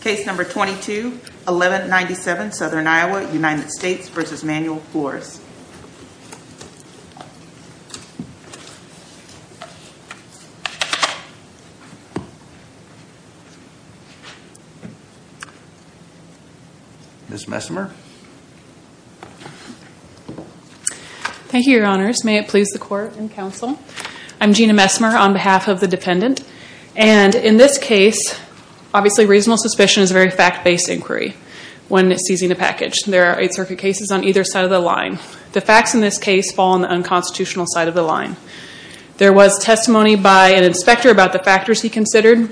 Case number 22-1197, Southern Iowa, United States v. Manuel Flores. Ms. Messmer. Thank you, Your Honors. May it please the Court and Counsel. I'm Gina Messmer on behalf of the dependent. And in this case, obviously reasonable suspicion is a very fact-based inquiry when seizing a package. There are Eighth Circuit cases on either side of the line. The facts in this case fall on the unconstitutional side of the line. There was testimony by an inspector about the factors he considered,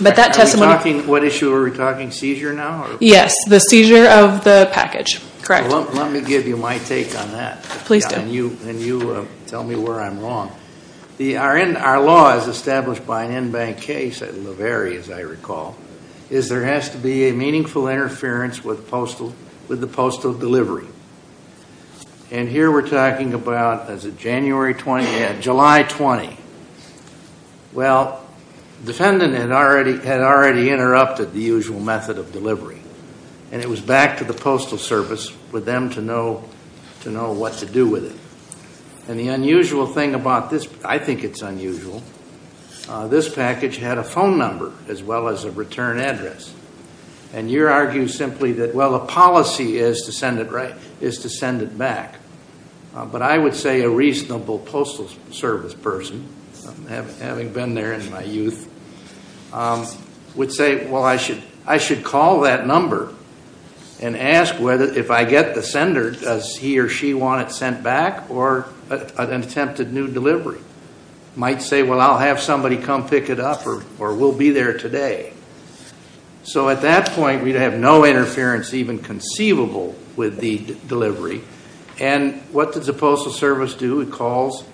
but that testimony... What issue are we talking? Seizure now? Yes, the seizure of the package. Correct. Let me give you my take on that. Please do. And you tell me where I'm wrong. Our law is established by an in-bank case at Laverie, as I recall, is there has to be a meaningful interference with the postal delivery. And here we're talking about as of July 20. Well, the defendant had already interrupted the usual method of delivery. And it was back to the Postal Service with them to know what to do with it. And the unusual thing about this, I think it's unusual, this package had a phone number as well as a return address. And you're arguing simply that, well, a policy is to send it back. But I would say a reasonable Postal Service person, having been there in my youth, would say, well, I should call that number and ask if I get the sender, does he or she want it sent back or an attempted new delivery? Might say, well, I'll have somebody come pick it up or we'll be there today. So at that point, we'd have no interference even conceivable with the delivery. And what does the Postal Service do? It calls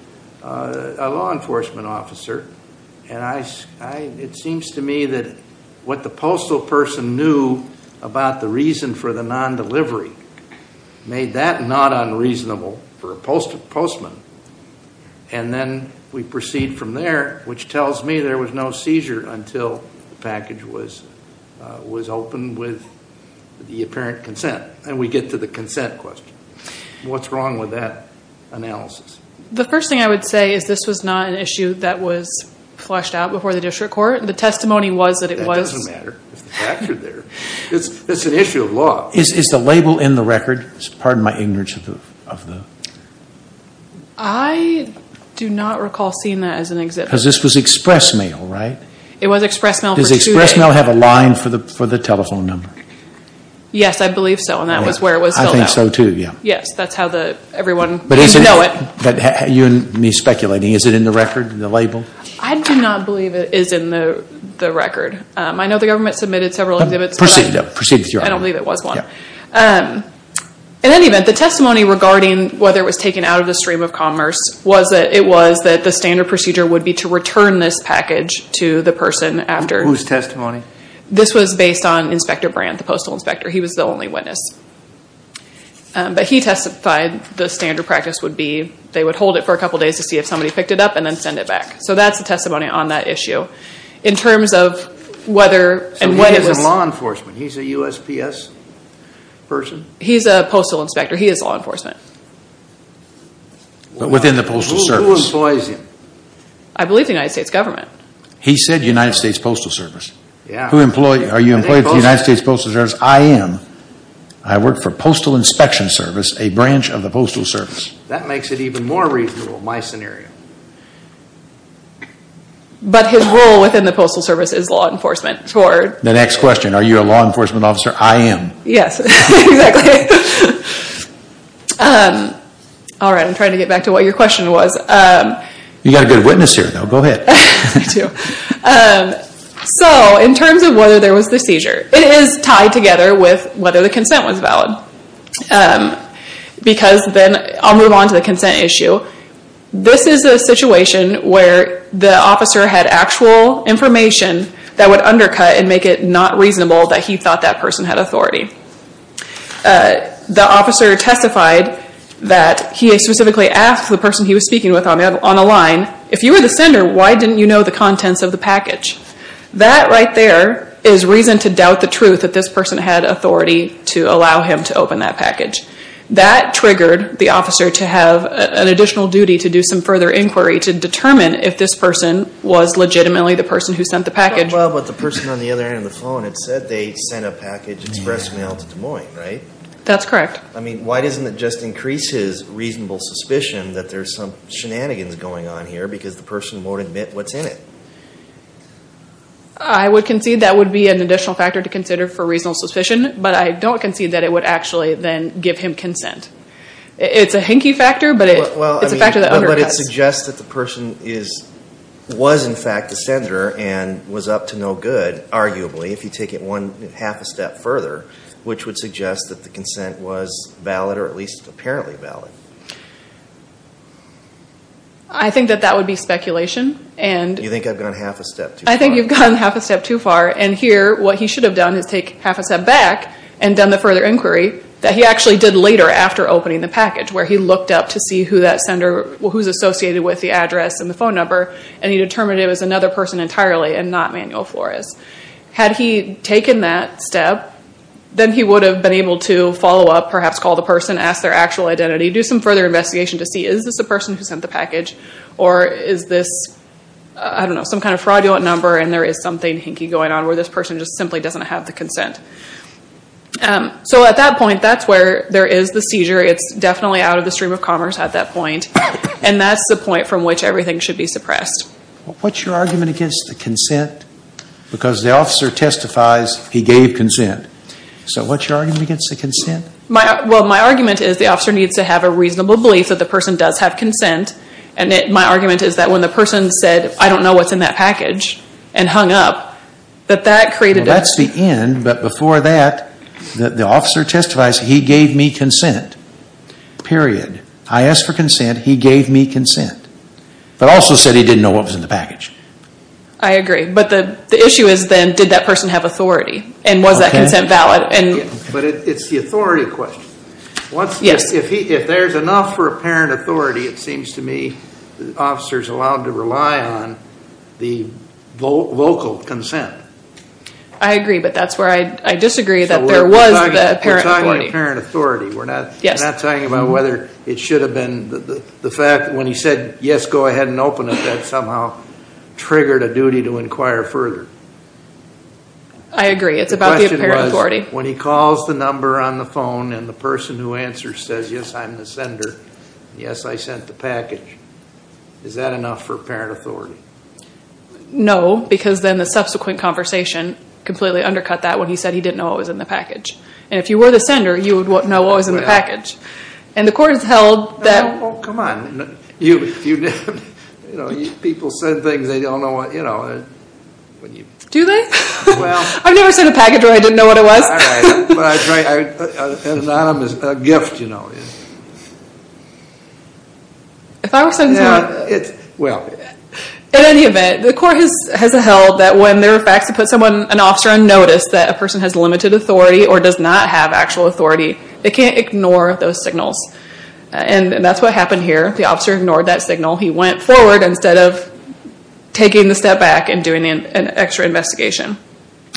a law enforcement officer. And it seems to me that what the postal person knew about the reason for the non-delivery made that not unreasonable for a postman. And then we proceed from there, which tells me there was no seizure until the package was opened with the apparent consent. And we get to the consent question. What's wrong with that analysis? The first thing I would say is this was not an issue that was flushed out before the district court. The testimony was that it was. That doesn't matter. It's an issue of law. Is the label in the record? Pardon my ignorance. I do not recall seeing that as an exhibit. Because this was express mail, right? It was express mail for two days. Does express mail have a line for the telephone number? Yes, I believe so. And that was where it was filled out. I think so, too. Yes, that's how everyone knew it. But you and me speculating, is it in the record, the label? I do not believe it is in the record. I know the government submitted several exhibits. Proceed with your argument. I don't believe it was one. In any event, the testimony regarding whether it was taken out of the stream of commerce was that it was that the standard procedure would be to return this package to the person after. Whose testimony? This was based on Inspector Brandt, the postal inspector. He was the only witness. But he testified the standard practice would be they would hold it for a couple of days to see if somebody picked it up and then send it back. So that's the testimony on that issue. In terms of whether and when it was... So he isn't law enforcement. He's a USPS person? He's a postal inspector. He is law enforcement. But within the postal service. Who employs him? I believe the United States government. He said United States Postal Service. Are you employed with the United States Postal Service? He says, I am. I work for Postal Inspection Service, a branch of the Postal Service. That makes it even more reasonable, my scenario. But his role within the Postal Service is law enforcement. The next question, are you a law enforcement officer? I am. Yes, exactly. Alright, I'm trying to get back to what your question was. You've got a good witness here, though. Go ahead. So in terms of whether there was the seizure. It is tied together with whether the consent was valid. Because then, I'll move on to the consent issue. This is a situation where the officer had actual information that would undercut and make it not reasonable that he thought that person had authority. The officer testified that he specifically asked the person he was speaking with on a line, if you were the sender, why didn't you know the contents of the package? That right there is reason to doubt the truth that this person had authority to allow him to open that package. That triggered the officer to have an additional duty to do some further inquiry to determine if this person was legitimately the person who sent the package. Well, but the person on the other end of the phone had said they sent a package express mail to Des Moines, right? That's correct. I mean, why doesn't it just increase his reasonable suspicion that there's some shenanigans going on here because the person won't admit what's in it? I would concede that would be an additional factor to consider for reasonable suspicion, but I don't concede that it would actually then give him consent. It's a hinky factor, but it's a factor that undercuts. But it suggests that the person was in fact the sender and was up to no good, arguably, if you take it one half a step further, which would suggest that the consent was valid or at least apparently valid. I think that that would be speculation. You think I've gone half a step too far? I think you've gone half a step too far. And here, what he should have done is take half a step back and done the further inquiry that he actually did later after opening the package, where he looked up to see who that sender was associated with, the address and the phone number, and he determined it was another person entirely and not Manuel Flores. Had he taken that step, then he would have been able to follow up, perhaps call the person, ask their actual identity, do some further investigation to see, is this a person who sent the package? Or is this, I don't know, some kind of fraudulent number and there is something hinky going on where this person just simply doesn't have the consent? So at that point, that's where there is the seizure. It's definitely out of the stream of commerce at that point. And that's the point from which everything should be suppressed. What's your argument against the consent? Because the officer testifies he gave consent. So what's your argument against the consent? My argument is the officer needs to have a reasonable belief that the person does have consent. And my argument is that when the person said, I don't know what's in that package and hung up, that that created a... That's the end, but before that, the officer testifies he gave me consent. Period. I asked for consent, he gave me consent. But also said he didn't know what was in the package. I agree. But the issue is then, did that person have authority? And was that consent valid? But it's the authority question. If there's enough for apparent authority, it seems to me the officer is allowed to rely on the local consent. I agree, but that's where I disagree that there was the apparent authority. We're talking about apparent authority. We're not talking about whether it should have been the fact when he said, yes, go ahead and open it, that somehow triggered a duty to inquire further. I agree. It's about the apparent authority. The question was when he calls the number on the phone and the person who answers says, yes, I'm the sender, yes, I sent the package. Is that enough for apparent authority? No, because then the subsequent conversation completely undercut that when he said he didn't know what was in the package. And if you were the sender, you would know what was in the package. And the court has held that... Oh, come on. People send things, they don't know what... Do they? I've never sent a package where I didn't know what it was. Anonymous, a gift, you know. If I were sent something... Well... In any event, the court has held that when there are facts that put an officer on notice that a person has limited authority or does not have actual authority, they can't ignore those signals. And that's what happened here. The officer ignored that signal. He went forward instead of taking the step back and doing an extra investigation.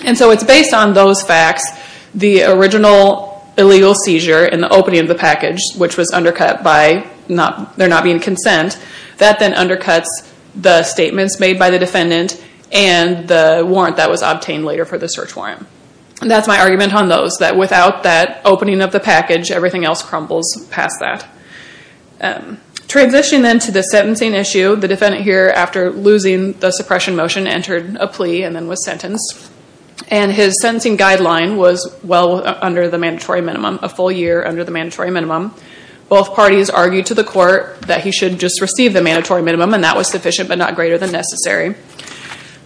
And so it's based on those facts, the original illegal seizure in the opening of the package, which was undercut by there not being consent, that then undercuts the statements made by the defendant and the warrant that was obtained later for the search warrant. And that's my argument on those, that without that opening of the package, everything else crumbles past that. Transitioning then to the sentencing issue, the defendant here, after losing the suppression motion, entered a plea and then was sentenced. And his sentencing guideline was well under the mandatory minimum, a full year under the mandatory minimum. Both parties argued to the court that he should just receive the mandatory minimum, and that was sufficient but not greater than necessary.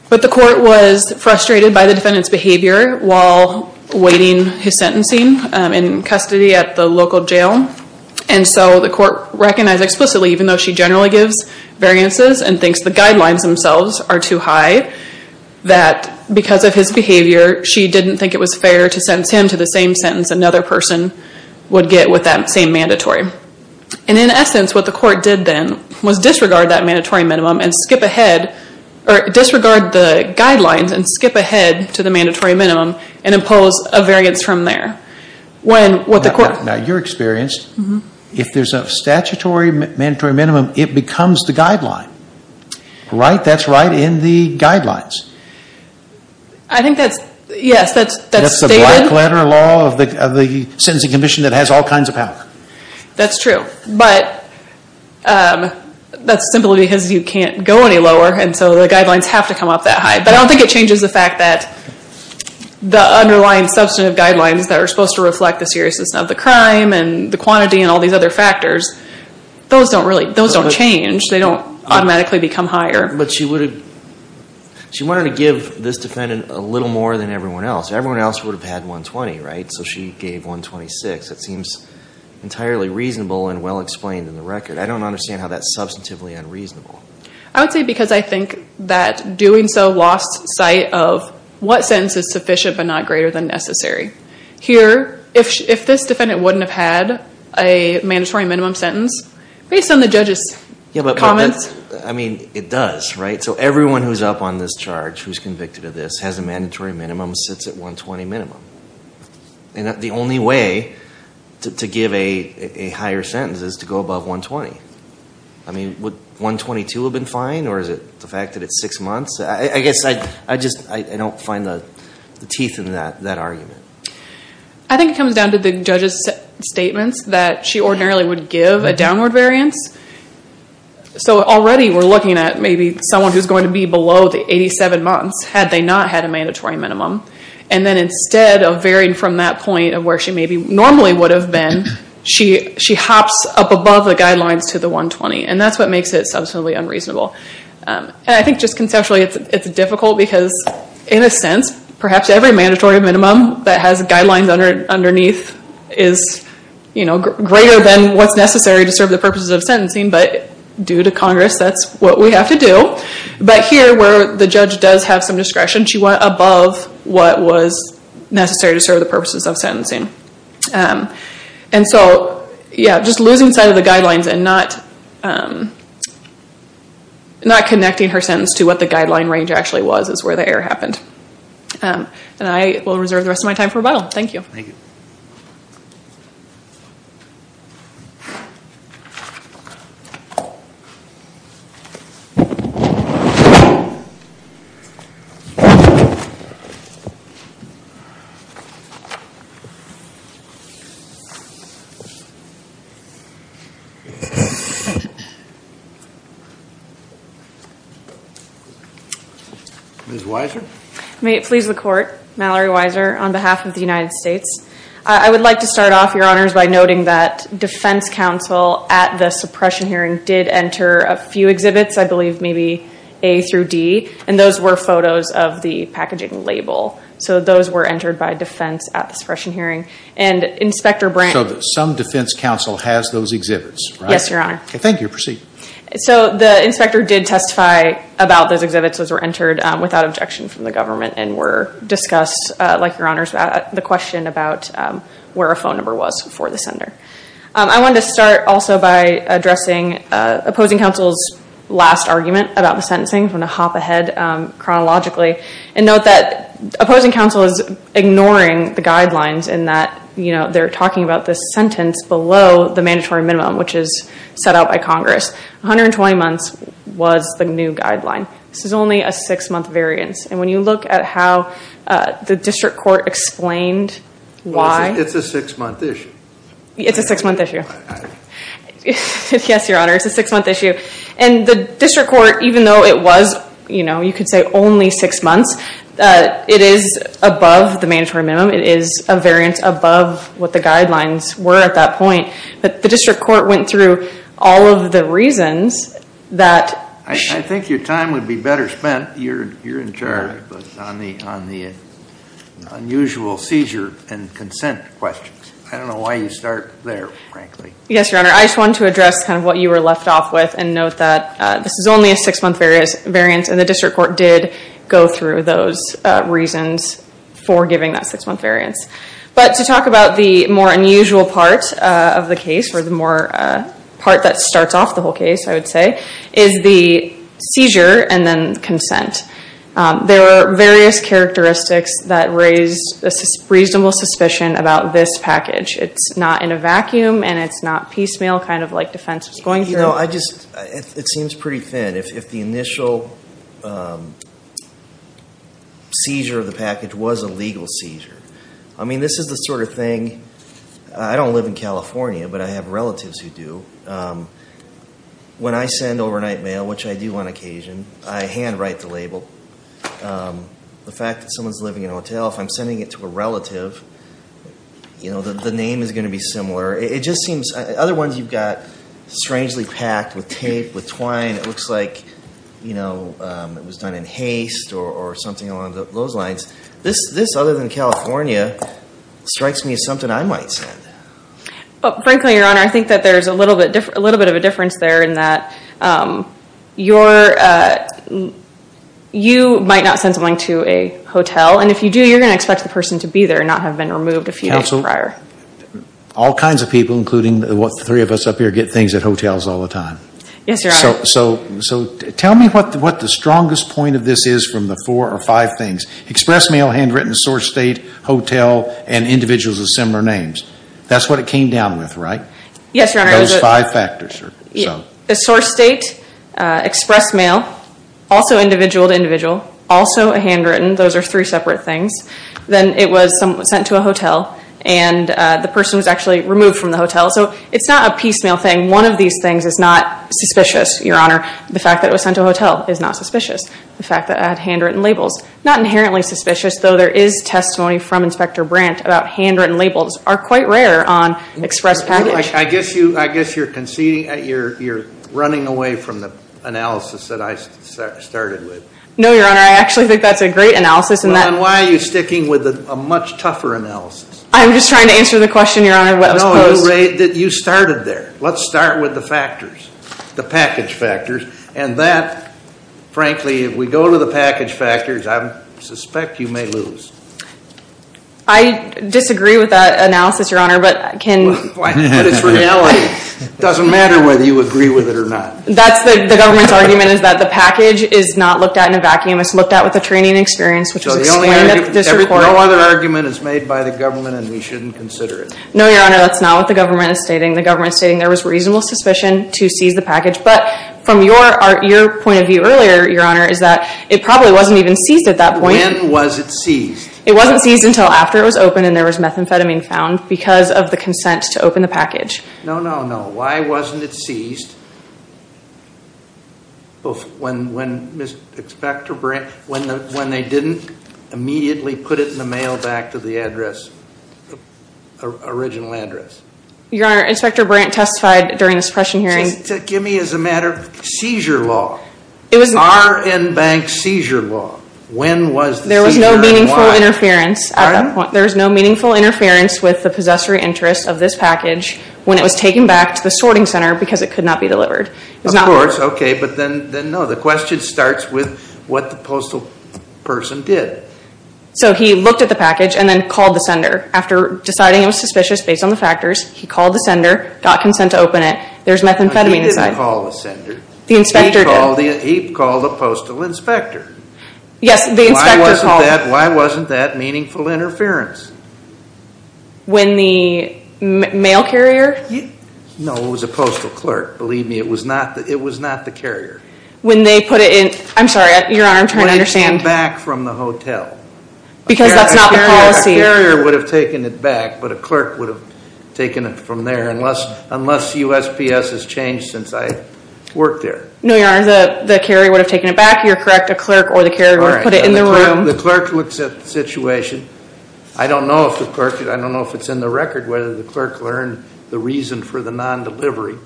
But the court was frustrated by the defendant's behavior while awaiting his sentencing in custody at the local jail. And so the court recognized explicitly, even though she generally gives variances and thinks the guidelines themselves are too high, that because of his behavior, she didn't think it was fair to sentence him to the same sentence another person would get with that same mandatory. And in essence, what the court did then was disregard that mandatory minimum and skip ahead, or disregard the guidelines and skip ahead to the mandatory minimum and impose a variance from there. Now you're experienced. If there's a statutory mandatory minimum, it becomes the guideline, right? That's right in the guidelines. I think that's, yes, that's stated. That's the black letter law of the sentencing commission that has all kinds of power. That's true. But that's simply because you can't go any lower, and so the guidelines have to come up that high. But I don't think it changes the fact that the underlying substantive guidelines that are supposed to reflect the seriousness of the crime and the quantity and all these other factors, those don't change. They don't automatically become higher. But she wanted to give this defendant a little more than everyone else. Everyone else would have had 120, right? So she gave 126. That seems entirely reasonable and well-explained in the record. I don't understand how that's substantively unreasonable. I would say because I think that doing so lost sight of what sentence is sufficient but not greater than necessary. Here, if this defendant wouldn't have had a mandatory minimum sentence, based on the judge's comments. I mean, it does, right? So everyone who's up on this charge who's convicted of this has a mandatory minimum, sits at 120 minimum. And the only way to give a higher sentence is to go above 120. I mean, would 122 have been fine, or is it the fact that it's six months? I guess I just don't find the teeth in that argument. I think it comes down to the judge's statements that she ordinarily would give a downward variance. So already we're looking at maybe someone who's going to be below the 87 months had they not had a mandatory minimum. And then instead of varying from that point of where she maybe normally would have been, she hops up above the guidelines to the 120. And that's what makes it substantively unreasonable. And I think just conceptually it's difficult because in a sense, perhaps every mandatory minimum that has guidelines underneath is greater than what's necessary to serve the purposes of sentencing. But due to Congress, that's what we have to do. But here where the judge does have some discretion, she went above what was necessary to serve the purposes of sentencing. And so just losing sight of the guidelines and not connecting her sentence to what the guideline range actually was is where the error happened. And I will reserve the rest of my time for rebuttal. Thank you. Thank you. Ms. Weiser? May it please the Court, Mallory Weiser, on behalf of the United States. I would like to start off, Your Honors, by noting that defense counsel at the suppression hearing did enter a few exhibits, I believe maybe A through D. And those were photos of the packaging label. So those were entered by defense at the suppression hearing. And Inspector Brant... So some defense counsel has those exhibits, right? Yes, Your Honor. Thank you. Proceed. So the inspector did testify about those exhibits as they were entered without objection from the government and were discussed, like Your Honors, the question about where a phone number was for the sender. I wanted to start also by addressing opposing counsel's last argument about the sentencing. I'm going to hop ahead chronologically and note that opposing counsel is ignoring the guidelines in that they're talking about this sentence below the mandatory minimum, which is set out by Congress. 120 months was the new guideline. This is only a six-month variance. And when you look at how the district court explained why... It's a six-month issue. It's a six-month issue. Yes, Your Honor, it's a six-month issue. And the district court, even though it was, you know, you could say only six months, it is above the mandatory minimum. It is a variance above what the guidelines were at that point. But the district court went through all of the reasons that... I think your time would be better spent, Your Honor, on the unusual seizure and consent questions. I don't know why you start there, frankly. Yes, Your Honor. I just wanted to address kind of what you were left off with and note that this is only a six-month variance and the district court did go through those reasons for giving that six-month variance. But to talk about the more unusual part of the case, or the more part that starts off the whole case, I would say, is the seizure and then consent. There are various characteristics that raise a reasonable suspicion about this package. It's not in a vacuum and it's not piecemeal, kind of like defense was going through. You know, it seems pretty thin. If the initial seizure of the package was a legal seizure, I mean, this is the sort of thing... I don't live in California, but I have relatives who do. When I send overnight mail, which I do on occasion, I handwrite the label. The fact that someone's living in a hotel, if I'm sending it to a relative, you know, the name is going to be similar. It just seems... Other ones you've got strangely packed with tape, with twine. It looks like, you know, it was done in haste or something along those lines. This, other than California, strikes me as something I might send. Frankly, Your Honor, I think that there's a little bit of a difference there in that you might not send something to a hotel, and if you do, you're going to expect the person to be there and not have been removed a few days prior. Counsel, all kinds of people, including the three of us up here, get things at hotels all the time. Yes, Your Honor. So tell me what the strongest point of this is from the four or five things. Express mail, handwritten, source state, hotel, and individuals with similar names. That's what it came down with, right? Yes, Your Honor. Those five factors. The source state, express mail, also individual to individual, also a handwritten. Those are three separate things. Then it was sent to a hotel, and the person was actually removed from the hotel. So it's not a piecemeal thing. One of these things is not suspicious, Your Honor. The fact that it was sent to a hotel is not suspicious. The fact that it had handwritten labels, not inherently suspicious, though there is testimony from Inspector Brandt about handwritten labels, are quite rare on express package. I guess you're conceding. You're running away from the analysis that I started with. No, Your Honor. I actually think that's a great analysis. Well, then why are you sticking with a much tougher analysis? I'm just trying to answer the question, Your Honor, what was posed. No, you started there. Let's start with the factors, the package factors. And that, frankly, if we go to the package factors, I suspect you may lose. I disagree with that analysis, Your Honor. But it's reality. It doesn't matter whether you agree with it or not. The government's argument is that the package is not looked at in a vacuum. It's looked at with a training experience, which is explained at the district court. No other argument is made by the government, and we shouldn't consider it. No, Your Honor, that's not what the government is stating. The government is stating there was reasonable suspicion to seize the package. But from your point of view earlier, Your Honor, is that it probably wasn't even seized at that point. When was it seized? It wasn't seized until after it was opened and there was methamphetamine found because of the consent to open the package. No, no, no. Why wasn't it seized when they didn't immediately put it in the mail back to the original address? Your Honor, Inspector Brandt testified during the suppression hearing. Give me as a matter of seizure law. It was not. Our in-bank seizure law. When was the seizure and why? There was no meaningful interference. Pardon? There was no meaningful interference with the possessory interest of this package when it was taken back to the sorting center because it could not be delivered. Of course, okay. But then, no, the question starts with what the postal person did. So he looked at the package and then called the sender. After deciding it was suspicious based on the factors, he called the sender, got consent to open it. There's methamphetamine inside. He didn't call the sender. The inspector did. He called the postal inspector. Yes, the inspector called. Why wasn't that meaningful interference? When the mail carrier? No, it was a postal clerk. Believe me, it was not the carrier. When they put it in, I'm sorry, Your Honor, I'm trying to understand. When it came back from the hotel. Because that's not the policy. A carrier would have taken it back, but a clerk would have taken it from there unless USPS has changed since I worked there. No, Your Honor, the carrier would have taken it back. You're correct. A clerk or the carrier would have put it in the room. The clerk looks at the situation. I don't know if the clerk, I don't know if it's in the record whether the clerk learned the reason for the non-delivery,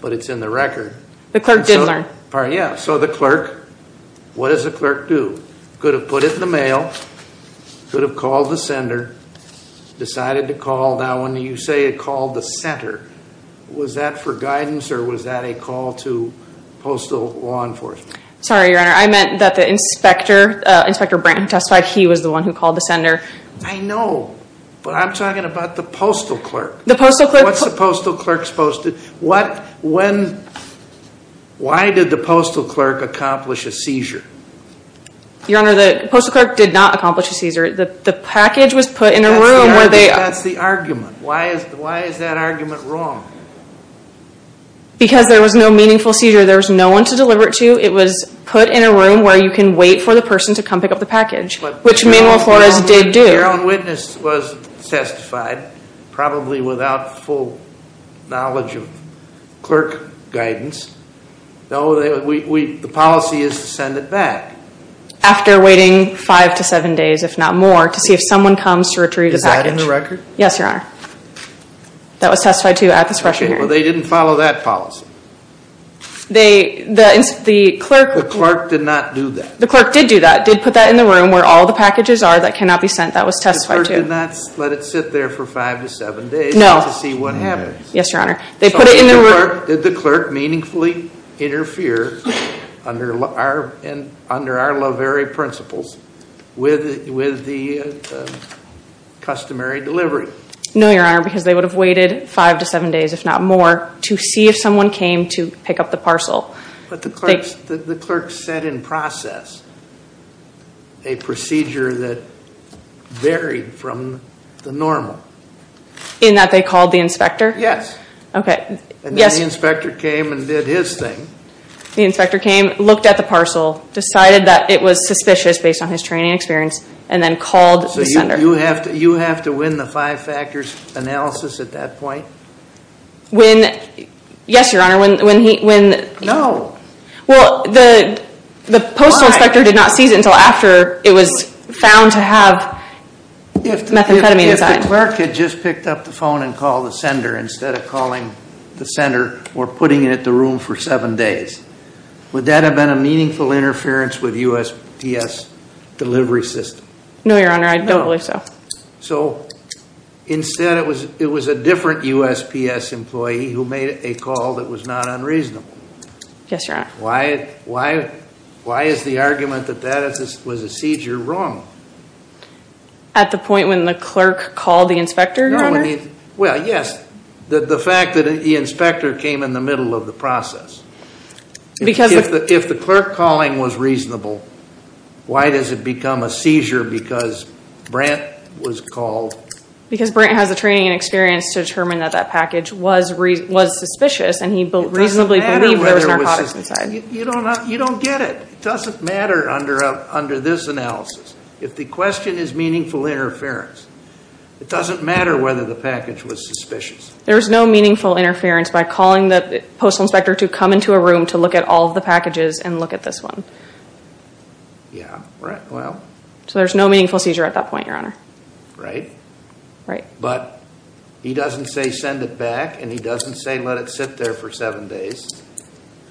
but it's in the record. The clerk did learn. Yeah, so the clerk, what does the clerk do? Could have put it in the mail, could have called the sender, decided to call. Now, when you say it called the center, was that for guidance or was that a call to postal law enforcement? Sorry, Your Honor, I meant that the inspector, Inspector Branton testified he was the one who called the sender. I know, but I'm talking about the postal clerk. The postal clerk? What's the postal clerk supposed to, what, when, why did the postal clerk accomplish a seizure? Your Honor, the postal clerk did not accomplish a seizure. The package was put in a room where they. That's the argument. Why is that argument wrong? Because there was no meaningful seizure. There was no one to deliver it to. It was put in a room where you can wait for the person to come pick up the package, which Manuel Flores did do. Your own witness was testified, probably without full knowledge of clerk guidance. No, the policy is to send it back. After waiting five to seven days, if not more, to see if someone comes to retrieve the package. Is that in the record? Yes, Your Honor. That was testified to at the suppression hearing. Okay, well, they didn't follow that policy. The clerk. The clerk did not do that. The clerk did do that, did put that in the room where all the packages are that cannot be sent. That was testified to. The clerk did not let it sit there for five to seven days. No. To see what happens. Yes, Your Honor. They put it in the room. So, Your Honor, did the clerk meaningfully interfere under our lovery principles with the customary delivery? No, Your Honor, because they would have waited five to seven days, if not more, to see if someone came to pick up the parcel. But the clerk said in process a procedure that varied from the normal. In that they called the inspector? Yes. Okay, yes. And then the inspector came and did his thing. The inspector came, looked at the parcel, decided that it was suspicious based on his training experience, and then called the sender. So you have to win the five factors analysis at that point? When, yes, Your Honor, when he. No. Well, the postal inspector did not seize it until after it was found to have methamphetamine inside. If the clerk had just picked up the phone and called the sender instead of calling the sender or putting it in the room for seven days, would that have been a meaningful interference with USPS delivery system? No, Your Honor, I don't believe so. So instead it was a different USPS employee who made a call that was not unreasonable? Yes, Your Honor. Why is the argument that that was a seizure wrong? At the point when the clerk called the inspector, Your Honor? Well, yes, the fact that the inspector came in the middle of the process. If the clerk calling was reasonable, why does it become a seizure because Brant was called? Because Brant has the training and experience to determine that that package was suspicious and he reasonably believed there was narcotics inside. You don't get it. It doesn't matter under this analysis. If the question is meaningful interference, it doesn't matter whether the package was suspicious. There was no meaningful interference by calling the postal inspector to come into a room to look at all the packages and look at this one. Yeah, right. So there's no meaningful seizure at that point, Your Honor. Right. Right. But he doesn't say send it back and he doesn't say let it sit there for seven days.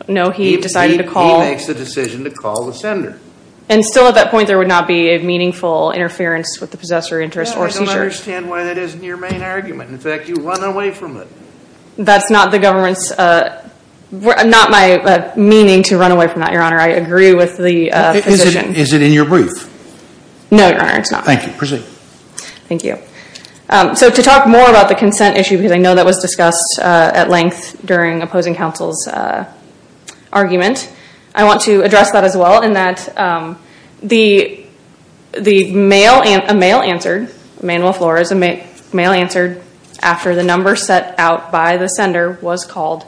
No, he decided to call. He makes the decision to call the sender. And still at that point there would not be a meaningful interference with the possessor interest or seizure. I don't understand why that isn't your main argument. In fact, you run away from it. That's not the government's, not my meaning to run away from that, Your Honor. I agree with the position. Is it in your brief? No, Your Honor, it's not. Thank you. Proceed. Thank you. So to talk more about the consent issue, because I know that was discussed at length during opposing counsel's argument, I want to address that as well in that the mail, a mail answered, Manuel Flores, a mail answered after the number set out by the sender was called.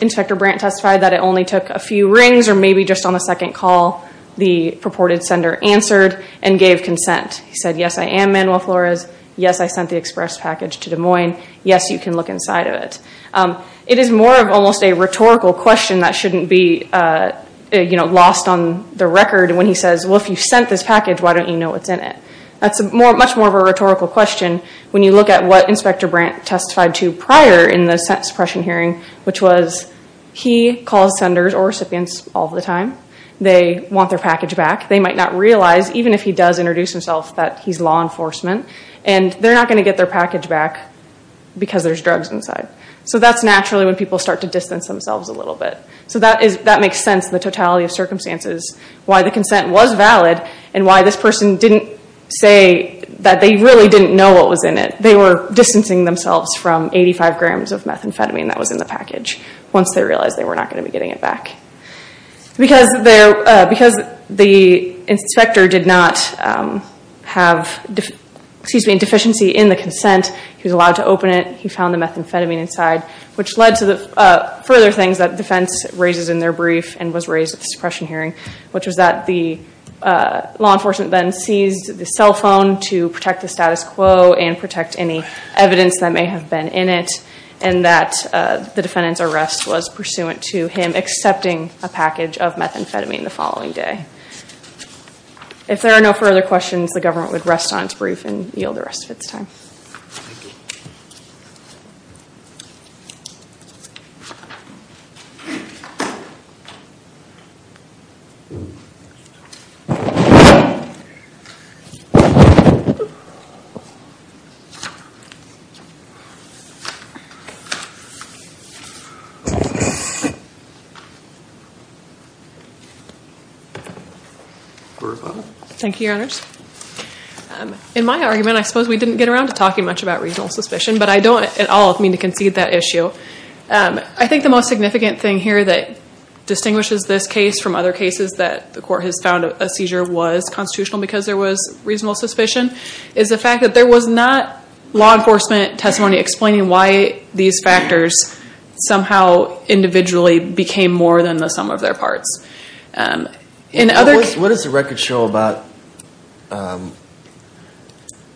Inspector Brandt testified that it only took a few rings or maybe just on the second call the purported sender answered and gave consent. He said, yes, I am Manuel Flores. Yes, I sent the express package to Des Moines. Yes, you can look inside of it. It is more of almost a rhetorical question that shouldn't be lost on the record when he says, well, if you sent this package, why don't you know what's in it? That's much more of a rhetorical question when you look at what Inspector Brandt testified to prior in the sentence suppression hearing, which was he calls senders or recipients all the time. They want their package back. They might not realize, even if he does introduce himself, that he's law enforcement, and they're not going to get their package back because there's drugs inside. So that's naturally when people start to distance themselves a little bit. So that makes sense in the totality of circumstances why the consent was valid and why this person didn't say that they really didn't know what was in it. They were distancing themselves from 85 grams of methamphetamine that was in the package once they realized they were not going to be getting it back. Because the inspector did not have a deficiency in the consent, he was allowed to open it. He found the methamphetamine inside, which led to the further things that defense raises in their brief and was raised at the suppression hearing, which was that the law enforcement then seized the cell phone to protect the status quo and protect any evidence that may have been in it, and that the defendant's arrest was pursuant to him accepting a package of methamphetamine the following day. If there are no further questions, the government would rest on its brief and yield the rest of its time. Thank you, Your Honors. In my argument, I suppose we didn't get around to talking much about reasonable suspicion, but I don't at all mean to concede that issue. I think the most significant thing here that distinguishes this case from other cases that the court has found a seizure was constitutional because there was reasonable suspicion is the fact that there was not law enforcement testimony explaining why these factors somehow individually became more than the sum of their parts. What does the record show about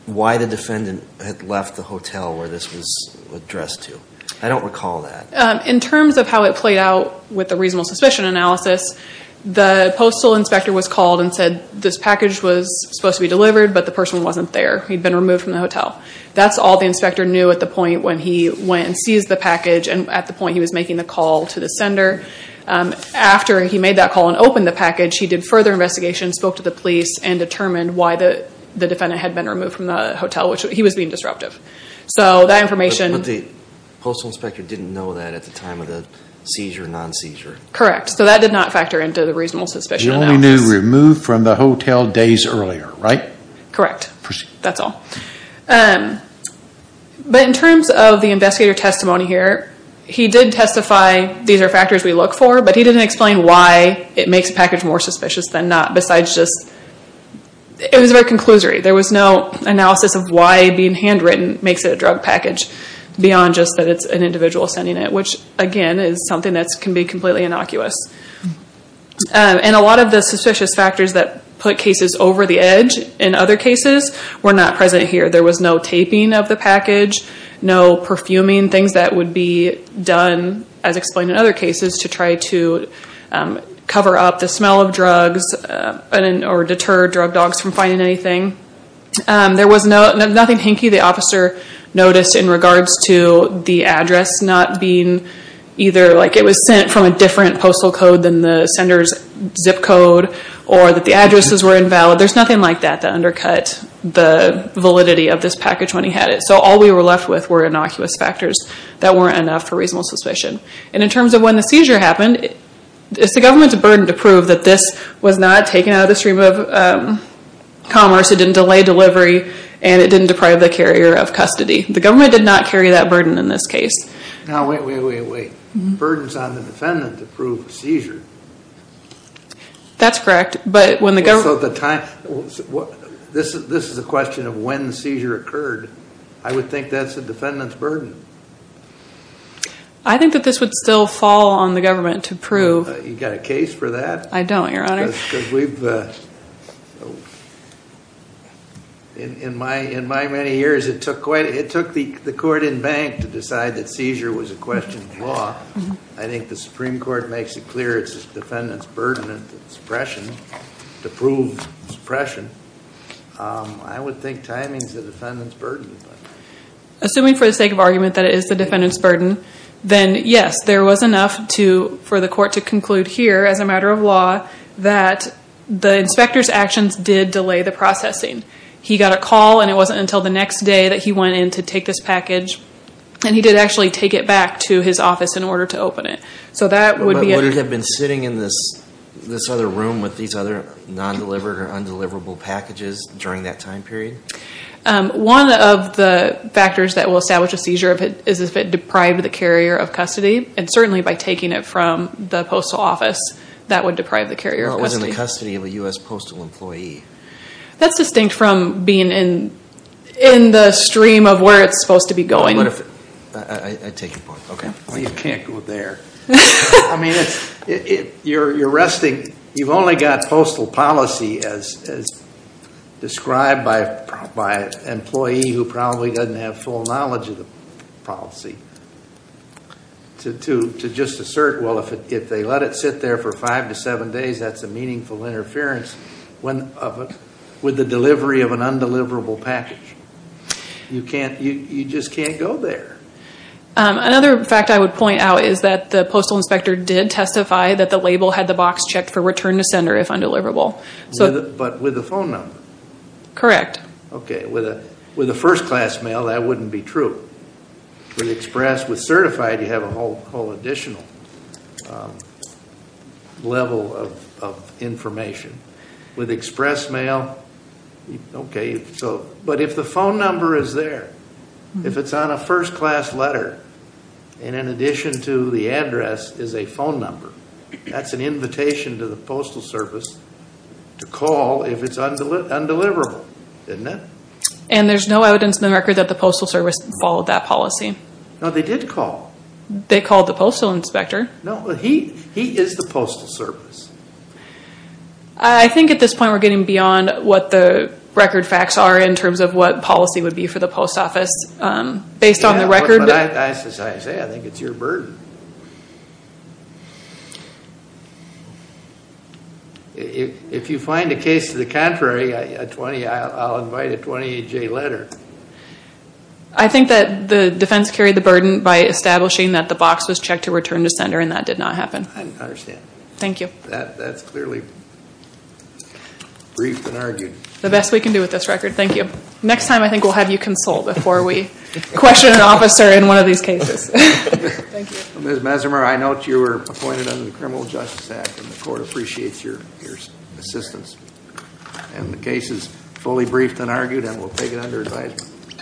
why the defendant had left the hotel where this was addressed to? I don't recall that. In terms of how it played out with the reasonable suspicion analysis, the postal inspector was called and said this package was supposed to be delivered, but the person wasn't there. He'd been removed from the hotel. That's all the inspector knew at the point when he went and seized the package and at the point he was making the call to the sender. After he made that call and opened the package, he did further investigation, spoke to the police, and determined why the defendant had been removed from the hotel, which he was being disruptive. But the postal inspector didn't know that at the time of the seizure or non-seizure? Correct. So that did not factor into the reasonable suspicion analysis. He knew he was removed from the hotel days earlier, right? Correct. That's all. But in terms of the investigator testimony here, he did testify these are factors we look for, but he didn't explain why it makes the package more suspicious than not. It was very conclusory. There was no analysis of why being handwritten makes it a drug package beyond just that it's an individual sending it, which, again, is something that can be completely innocuous. And a lot of the suspicious factors that put cases over the edge in other cases were not present here. There was no taping of the package, no perfuming, things that would be done, as explained in other cases, to try to cover up the smell of drugs or deter drug dogs from finding anything. There was nothing hinky the officer noticed in regards to the address not being either like it was sent from a different postal code than the sender's zip code or that the addresses were invalid. There's nothing like that that undercut the validity of this package when he had it. So all we were left with were innocuous factors that weren't enough for reasonable suspicion. And in terms of when the seizure happened, it's the government's burden to prove that this was not taken out of the stream of commerce, it didn't delay delivery, and it didn't deprive the carrier of custody. The government did not carry that burden in this case. Now, wait, wait, wait, wait. The burden's on the defendant to prove the seizure. That's correct. So at the time, this is a question of when the seizure occurred. I would think that's the defendant's burden. I think that this would still fall on the government to prove. You got a case for that? I don't, Your Honor. Because we've, in my many years, it took the court in bank to decide that seizure was a question of law. I think the Supreme Court makes it clear it's the defendant's burden to prove suppression. I would think timing's the defendant's burden. Assuming for the sake of argument that it is the defendant's burden, then, yes, there was enough for the court to conclude here, as a matter of law, that the inspector's actions did delay the processing. He got a call, and it wasn't until the next day that he went in to take this package, and he did actually take it back to his office in order to open it. So that would be a Would it have been sitting in this other room with these other non-delivered or undeliverable packages during that time period? One of the factors that will establish a seizure is if it deprived the carrier of custody, and certainly by taking it from the postal office, that would deprive the carrier of custody. Well, it was in the custody of a U.S. postal employee. That's distinct from being in the stream of where it's supposed to be going. I take your point. Okay. Well, you can't go there. I mean, you're resting. You've only got postal policy as described by an employee who probably doesn't have full knowledge of the policy, to just assert, well, if they let it sit there for five to seven days, that's a meaningful interference with the delivery of an undeliverable package. You just can't go there. Another fact I would point out is that the postal inspector did testify that the label had the box checked for return to sender if undeliverable. But with a phone number? Correct. Okay. With a first-class mail, that wouldn't be true. With express, with certified, you have a whole additional level of information. With express mail, okay. But if the phone number is there, if it's on a first-class letter and in addition to the address is a phone number, that's an invitation to the postal service to call if it's undeliverable, isn't it? And there's no evidence in the record that the postal service followed that policy. No, they did call. They called the postal inspector. No, he is the postal service. I think at this point we're getting beyond what the record facts are in terms of what policy would be for the post office. Based on the record. That's what I say, I think it's your burden. If you find a case to the contrary, I'll invite a 20-J letter. I think that the defense carried the burden by establishing that the box was checked to return to sender and that did not happen. I understand. Thank you. That's clearly briefed and argued. The best we can do with this record. Thank you. Next time I think we'll have you consult before we question an officer in one of these cases. Thank you. Ms. Mesimer, I note you were appointed under the Criminal Justice Act and the court appreciates your assistance. And the case is fully briefed and argued and we'll take it under advisement.